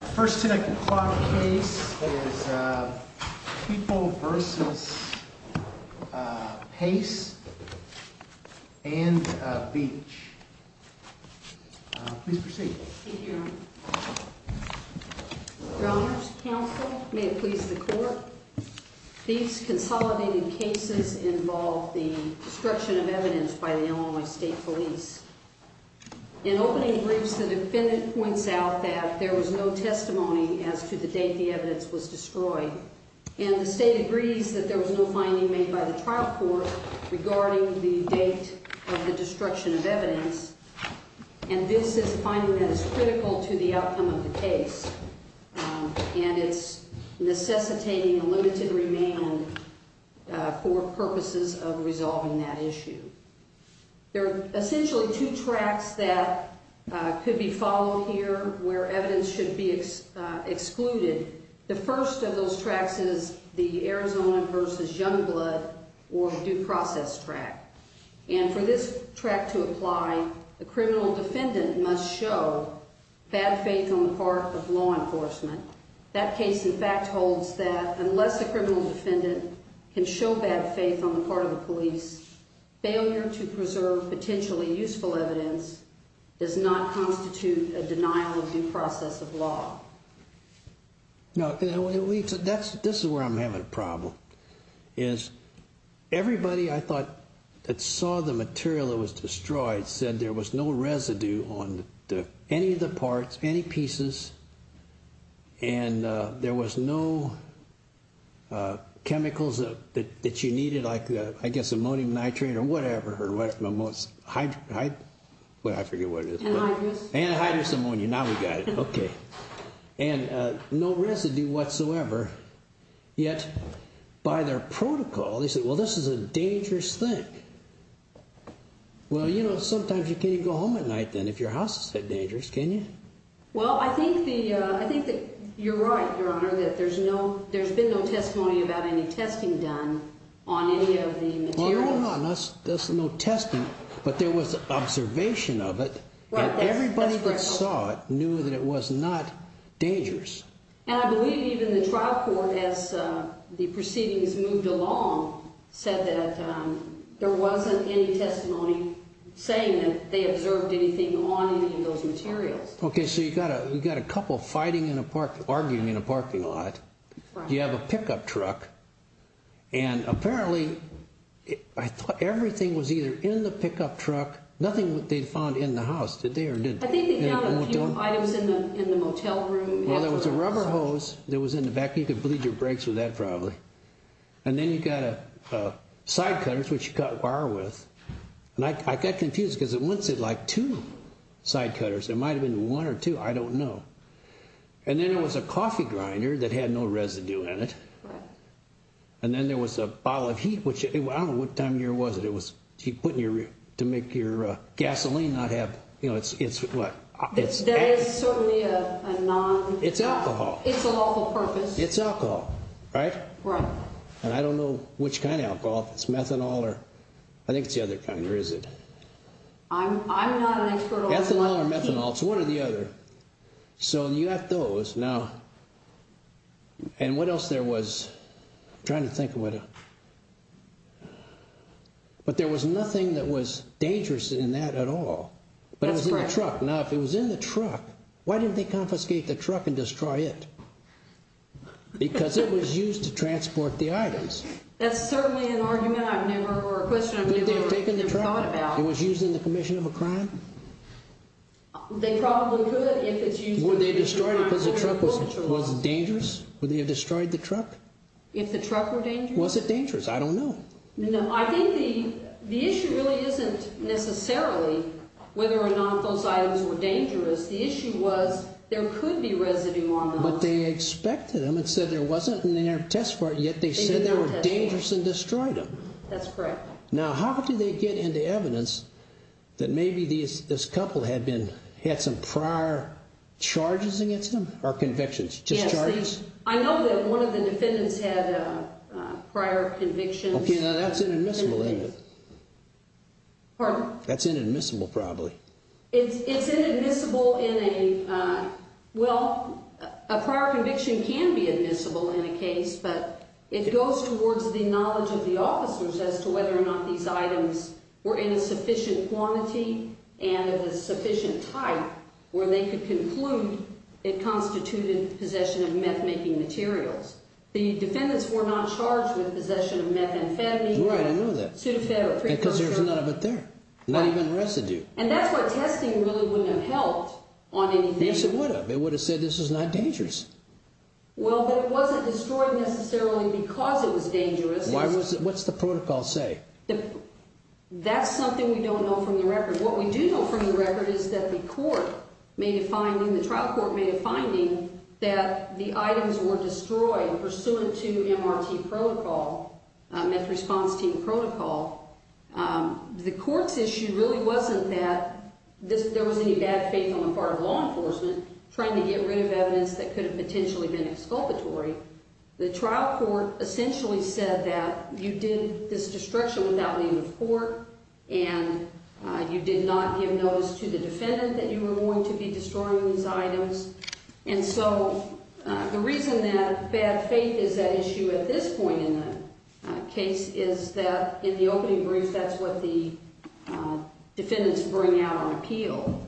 First 10 o'clock case is People v. Pace and Beach. Please proceed. Thank you, Your Honor. Your Honors, Counsel, may it please the Court, These consolidated cases involve the destruction of evidence by the Illinois State Police. In opening briefs, the defendant points out that there was no testimony as to the date the evidence was destroyed, and the State agrees that there was no finding made by the trial court regarding the date of the destruction of evidence, and this is a finding that is critical to the outcome of the case, and it's necessitating a limited remand for purposes of resolving that issue. There are essentially two tracks that could be followed here where evidence should be excluded. The first of those tracks is the Arizona v. Youngblood or due process track, and for this track to apply, a criminal defendant must show bad faith on the part of law enforcement. That case, in fact, holds that unless a criminal defendant can show bad faith on the part of the police, failure to preserve potentially useful evidence does not constitute a denial of due process of law. Now, this is where I'm having a problem, is everybody I thought that saw the material that was destroyed said there was no residue on any of the parts, any pieces, and there was no chemicals that you needed like, I guess, ammonium nitrate or whatever, or what's it, I forget what it is. Anhydrous. Anhydrous ammonia, now we got it, okay. And no residue whatsoever, yet by their protocol, they said, well, this is a dangerous thing. Well, you know, sometimes you can't even go home at night then if your house is that dangerous, can you? Well, I think that you're right, Your Honor, that there's been no testimony about any testing done on any of the materials. No, there's no testing, but there was observation of it, and everybody that saw it knew that it was not dangerous. And I believe even the trial court, as the proceedings moved along, said that there wasn't any testimony saying that they observed anything on any of those materials. Okay, so you've got a couple fighting in a park, arguing in a parking lot. Right. You have a pickup truck, and apparently, I thought everything was either in the pickup truck, nothing that they'd found in the house, did they or didn't they? I think they found a few items in the motel room. Well, there was a rubber hose that was in the back. You could bleed your brakes with that probably. And then you've got side cutters, which you cut wire with. And I got confused, because it looks like two side cutters. It might have been one or two. I don't know. And then there was a coffee grinder that had no residue in it. Right. And then there was a bottle of heat, which I don't know what time of year was it. It was to make your gasoline not have, you know, it's what? That is certainly a non- It's alcohol. It's a lawful purpose. It's alcohol, right? Right. And I don't know which kind of alcohol. If it's methanol or I think it's the other kind. Or is it? I'm not an expert on one. Ethanol or methanol. It's one or the other. So you have those. Now, and what else there was? I'm trying to think of what else. But there was nothing that was dangerous in that at all. But it was in the truck. Now, if it was in the truck, why didn't they confiscate the truck and destroy it? Because it was used to transport the items. That's certainly an argument I've never heard or a question I've never thought about. Would they have taken the truck? It was used in the commission of a crime? They probably could if it's used in the commission of a crime. Would they destroy it because the truck was dangerous? Would they have destroyed the truck? If the truck were dangerous? Was it dangerous? I don't know. No, I think the issue really isn't necessarily whether or not those items were dangerous. The issue was there could be residue on them. But they expected them and said there wasn't and they didn't test for it. Yet they said they were dangerous and destroyed them. That's correct. Now, how did they get into evidence that maybe this couple had some prior charges against them or convictions? Just charges? I know that one of the defendants had prior convictions. Okay, now that's inadmissible, isn't it? Pardon? That's inadmissible probably. It's inadmissible in a – well, a prior conviction can be admissible in a case, but it goes towards the knowledge of the officers as to whether or not these items were in a sufficient quantity and of a sufficient type where they could conclude it constituted possession of meth-making materials. The defendants were not charged with possession of methamphetamine. Right, I know that. Pseudophed or precondition. Because there's none of it there, not even residue. And that's why testing really wouldn't have helped on anything. Yes, it would have. It would have said this is not dangerous. Well, but it wasn't destroyed necessarily because it was dangerous. What's the protocol say? That's something we don't know from the record. What we do know from the record is that the court made a finding, the trial court made a finding, that the items were destroyed pursuant to MRT protocol, meth response team protocol. The court's issue really wasn't that there was any bad faith on the part of law enforcement trying to get rid of evidence that could have potentially been exculpatory. The trial court essentially said that you did this destruction without leaving the court and you did not give notice to the defendant that you were going to be destroying these items. And so the reason that bad faith is at issue at this point in the case is that in the opening brief that's what the defendants bring out on appeal.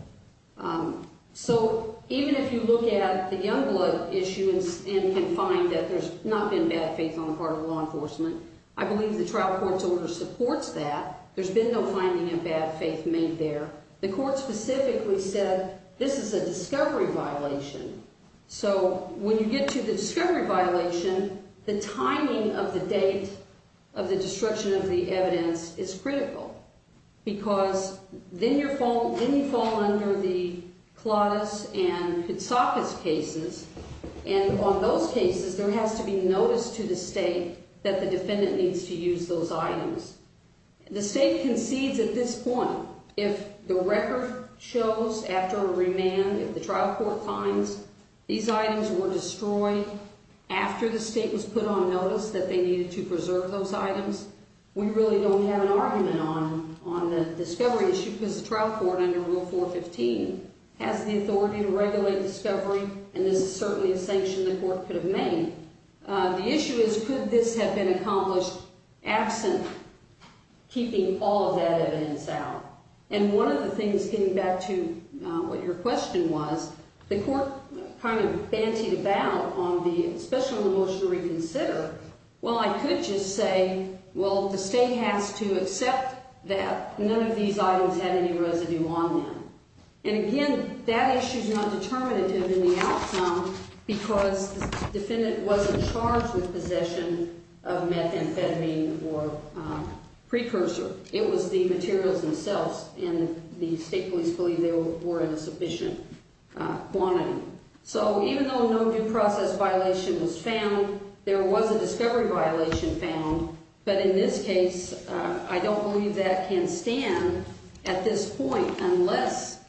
So even if you look at the Youngblood issue and can find that there's not been bad faith on the part of law enforcement, I believe the trial court's order supports that. There's been no finding of bad faith made there. The court specifically said this is a discovery violation. So when you get to the discovery violation, the timing of the date of the destruction of the evidence is critical because then you fall under the Claudus and Koutsakis cases, and on those cases there has to be notice to the state that the defendant needs to use those items. The state concedes at this point. If the record shows after a remand, if the trial court finds these items were destroyed after the state was put on notice that they needed to preserve those items, we really don't have an argument on the discovery issue because the trial court under Rule 415 has the authority to regulate discovery, and this is certainly a sanction the court could have made. The issue is could this have been accomplished absent keeping all of that evidence out? And one of the things, getting back to what your question was, the court kind of bantied about on the special remotion to reconsider. Well, I could just say, well, the state has to accept that none of these items had any residue on them. And again, that issue is not determinative in the outcome because the defendant wasn't charged with possession of methamphetamine or precursor. It was the materials themselves, and the state police believe they were in a sufficient quantity. So even though no due process violation was found, there was a discovery violation found, but in this case, I don't believe that can stand at this point unless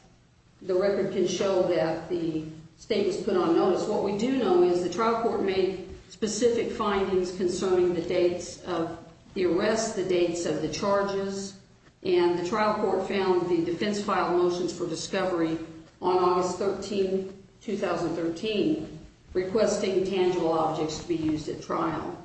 the record can show that the state was put on notice. What we do know is the trial court made specific findings concerning the dates of the arrest, the dates of the charges, and the trial court found the defense filed motions for discovery on August 13, 2013, requesting tangible objects to be used at trial.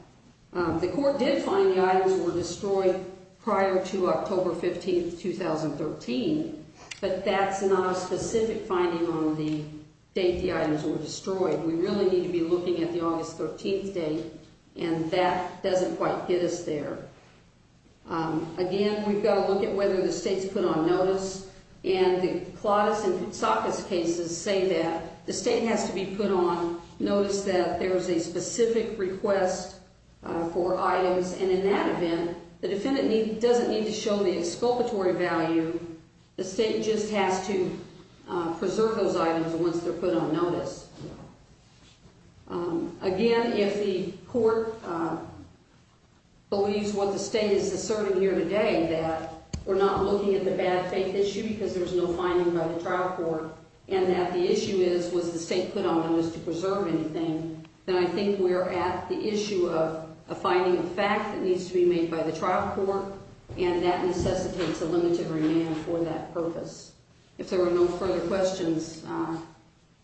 The court did find the items were destroyed prior to October 15, 2013, but that's not a specific finding on the date the items were destroyed. We really need to be looking at the August 13 date, and that doesn't quite get us there. Again, we've got to look at whether the state's put on notice, and the Claudus and Koutsakis cases say that the state has to be put on notice that there is a specific request for items, and in that event, the defendant doesn't need to show the exculpatory value. The state just has to preserve those items once they're put on notice. Again, if the court believes what the state is asserting here today, that we're not looking at the bad faith issue because there's no finding by the trial court and that the issue is was the state put on notice to preserve anything, then I think we're at the issue of a finding of fact that needs to be made by the trial court, and that necessitates a limited remand for that purpose. If there were no further questions,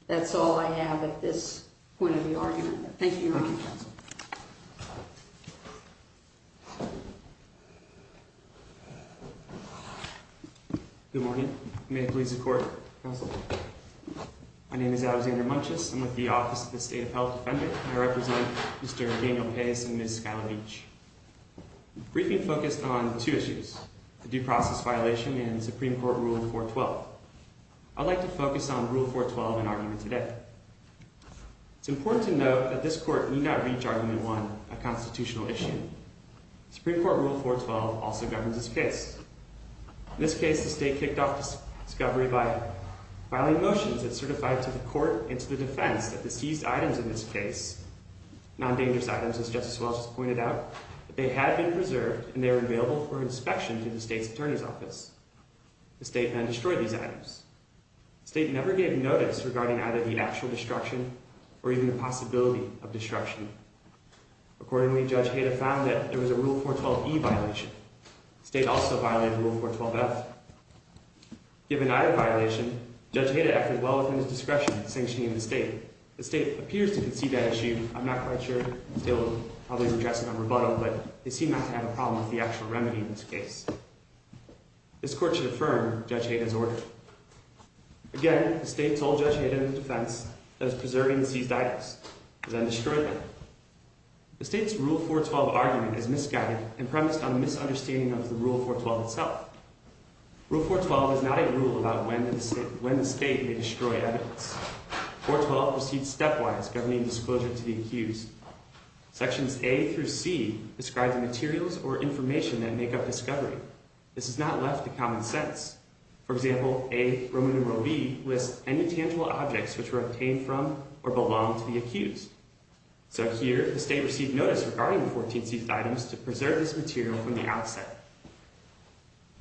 that's all I have at this point of the argument. Thank you, Counsel. Good morning. May it please the Court. Counsel? My name is Alexander Munches. I'm with the Office of the State of Health Defender, and I represent Mr. Daniel Pace and Ms. Skyler Leach. The briefing focused on two issues, the due process violation and Supreme Court Rule 412. I'd like to focus on Rule 412 in argument today. It's important to note that this Court need not reach Argument 1, a constitutional issue. Supreme Court Rule 412 also governs this case. In this case, the state kicked off discovery by filing motions that certified to the court and to the defense that the seized items in this case, non-dangerous items, as Justice Wells just pointed out, that they had been preserved and they were available for inspection to the state's attorney's office. The state then destroyed these items. The state never gave notice regarding either the actual destruction or even the possibility of destruction. Accordingly, Judge Heda found that there was a Rule 412e violation. The state also violated Rule 412f. Given either violation, Judge Heda acted well within his discretion in sanctioning the state. The state appears to concede that issue. I'm not quite sure. The state will probably address it on rebuttal, but they seem not to have a problem with the actual remedy in this case. This court should affirm Judge Heda's order. Again, the state told Judge Heda and the defense that it was preserving the seized items. It then destroyed them. The state's Rule 412 argument is misguided and premised on a misunderstanding of the Rule 412 itself. Rule 412 is not a rule about when the state may destroy evidence. 412 proceeds stepwise, governing disclosure to the accused. Sections A through C describe the materials or information that make up discovery. This is not left to common sense. For example, A, Roman numeral B, lists any tangible objects which were obtained from or belong to the accused. So here, the state received notice regarding the 14 seized items to preserve this material from the outset.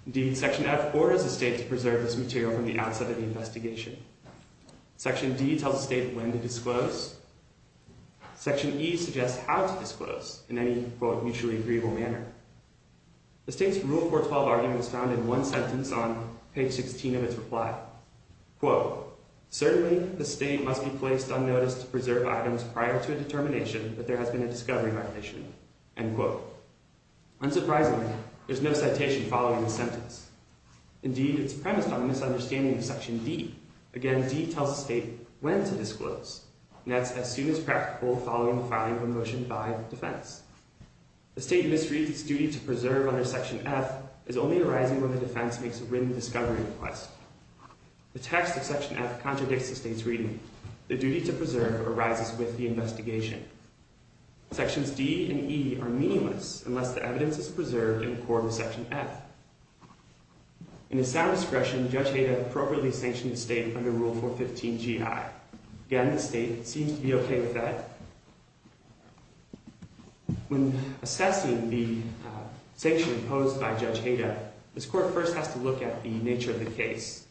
Indeed, Section F orders the state to preserve this material from the outset of the investigation. Section D tells the state when to disclose. Section E suggests how to disclose in any, quote, mutually agreeable manner. The state's Rule 412 argument is found in one sentence on page 16 of its reply. Quote, certainly the state must be placed on notice to preserve items prior to a determination that there has been a discovery violation. End quote. Unsurprisingly, there's no citation following this sentence. Indeed, it's premised on a misunderstanding of Section D. Again, D tells the state when to disclose. And that's as soon as practical following the filing of a motion by defense. The state misreads its duty to preserve under Section F as only arising when the defense makes a written discovery request. The text of Section F contradicts the state's reading. The duty to preserve arises with the investigation. Sections D and E are meaningless unless the evidence is preserved in accord with Section F. In a sound discretion, Judge Hayda appropriately sanctioned the state under Rule 415GI. Again, the state seems to be okay with that. When assessing the sanction imposed by Judge Hayda, this court first has to look at the nature of the case.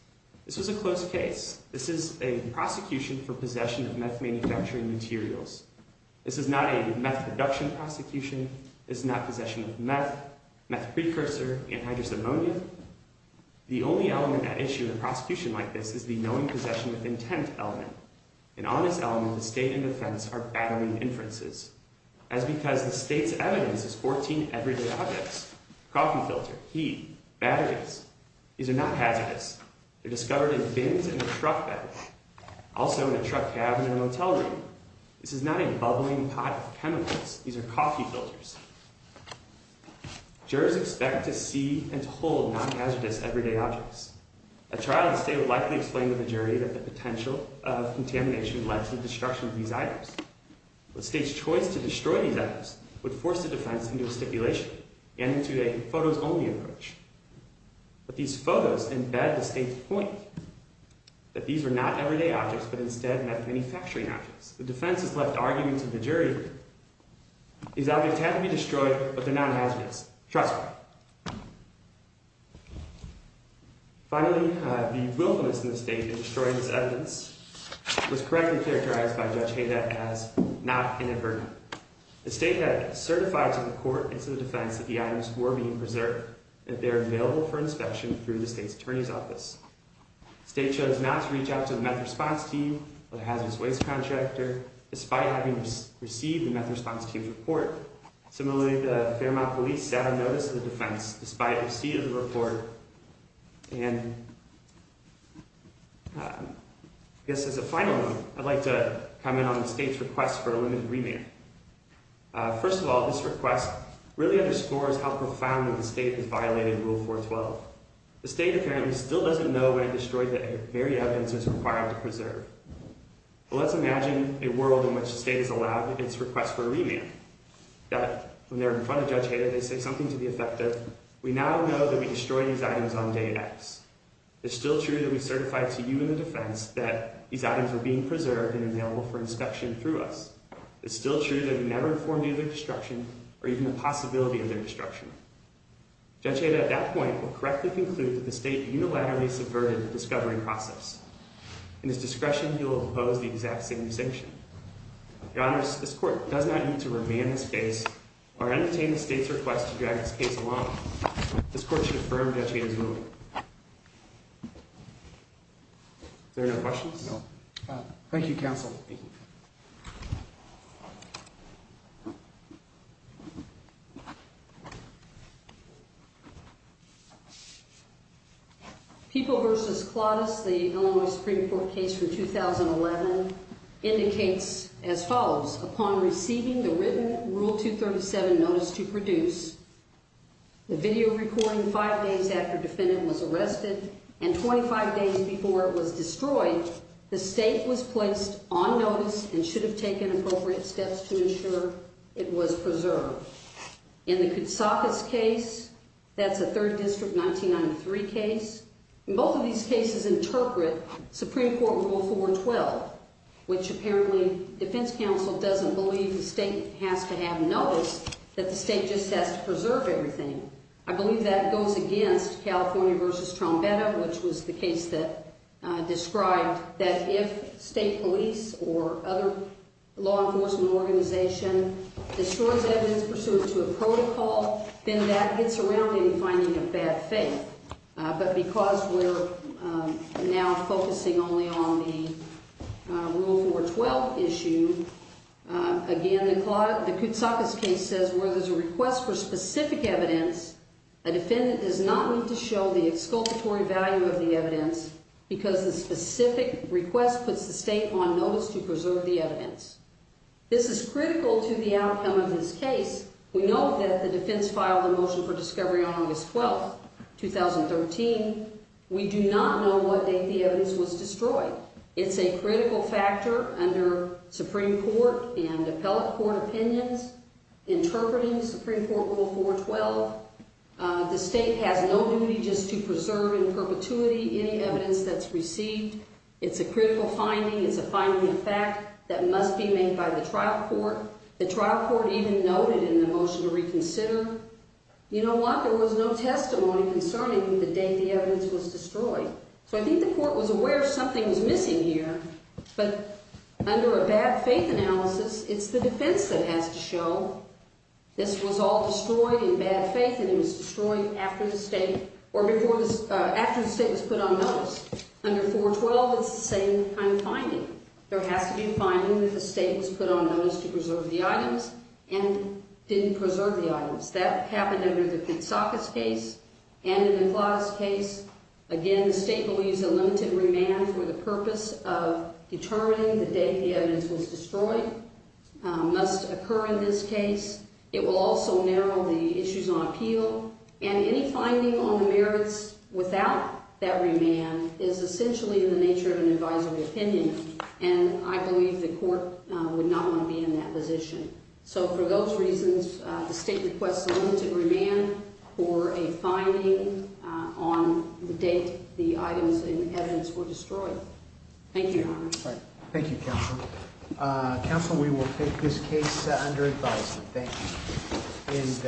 This was a close case. This is a prosecution for possession of meth manufacturing materials. This is not a meth production prosecution. This is not possession of meth, meth precursor, anhydrous ammonia. The only element at issue in a prosecution like this is the knowing possession with intent element. And on this element, the state and defense are battling inferences, as because the state's evidence is 14 everyday objects. Coffee filter, heat, batteries. These are not hazardous. They're discovered in bins in a truck bed, also in a truck cabin in a motel room. This is not a bubbling pot of chemicals. These are coffee filters. Jurors expect to see and hold non-hazardous everyday objects. A trial in the state would likely explain to the jury that the potential of contamination led to the destruction of these items. The state's choice to destroy these items would force the defense into a stipulation and into a photos-only approach. But these photos embed the state's point that these were not everyday objects, but instead meth manufacturing objects. The defense is left arguing to the jury these objects had to be destroyed, but they're not hazardous. Trust me. Finally, the wilfulness in the state in destroying this evidence was correctly characterized by Judge Hayden as not inadvertent. The state had certified to the court and to the defense that the items were being preserved, that they were available for inspection through the state's attorney's office. The state chose not to reach out to the meth response team or the hazardous waste contractor, despite having received the meth response team's report. Similarly, the Fairmont police sat on notice of the defense, despite receiving the report. And I guess as a final note, I'd like to comment on the state's request for a limited remand. First of all, this request really underscores how profound the state has violated Rule 412. The state apparently still doesn't know when it destroyed the very evidence it was required to preserve. But let's imagine a world in which the state is allowed its request for a remand. Now, when they're in front of Judge Hayden, they say something to the effect of, we now know that we destroyed these items on day X. It's still true that we certified to you and the defense that these items were being preserved and available for inspection through us. It's still true that we never informed you of their destruction or even the possibility of their destruction. Judge Hayden at that point will correctly conclude that the state unilaterally subverted the discovery process. In his discretion, he will oppose the exact same distinction. Your Honor, this court does not need to remand this case or entertain the state's request to drag this case along. This court should affirm Judge Hayden's ruling. Is there any other questions? No. Thank you, counsel. People v. Claudus, the Illinois Supreme Court case from 2011, indicates as follows. Upon receiving the written Rule 237 notice to produce, the video recording five days after defendant was arrested and 25 days before it was destroyed, the state was placed on notice and should have taken appropriate steps to ensure it was preserved. In the Koutsakis case, that's a 3rd District 1993 case. In both of these cases interpret Supreme Court Rule 412, which apparently defense counsel doesn't believe the state has to have notice, that the state just has to preserve everything. I believe that goes against California v. Trombetta, which was the case that described that if state police or other law enforcement organization destroys evidence pursuant to a protocol, then that gets around in finding a bad faith. But because we're now focusing only on the Rule 412 issue, again, the Koutsakis case says where there's a request for specific evidence, a defendant does not need to show the exculpatory value of the evidence because the specific request puts the state on notice to preserve the evidence. This is critical to the outcome of this case. We know that the defense filed a motion for discovery on August 12, 2013. We do not know what date the evidence was destroyed. It's a critical factor under Supreme Court and appellate court opinions interpreting Supreme Court Rule 412. The state has no duty just to preserve in perpetuity any evidence that's received. It's a critical finding. It's a finding of fact that must be made by the trial court. The trial court even noted in the motion to reconsider, you know what, there was no testimony concerning the date the evidence was destroyed. So I think the court was aware something was missing here, but under a bad faith analysis, it's the defense that has to show this was all destroyed in bad faith and it was destroyed after the state was put on notice. Under 412, it's the same kind of finding. There has to be a finding that the state was put on notice to preserve the items and didn't preserve the items. That happened under the Kitsakas case and in the McLeod's case. Again, the state believes a limited remand for the purpose of determining the date the evidence was destroyed must occur in this case. It will also narrow the issues on appeal. And any finding on the merits without that remand is essentially in the nature of an advisory opinion, and I believe the court would not want to be in that position. So for those reasons, the state requests a limited remand for a finding on the date the items and evidence were destroyed. Thank you, Your Honor. Thank you, Counselor. Counselor, we will take this case under advisory. Thank you.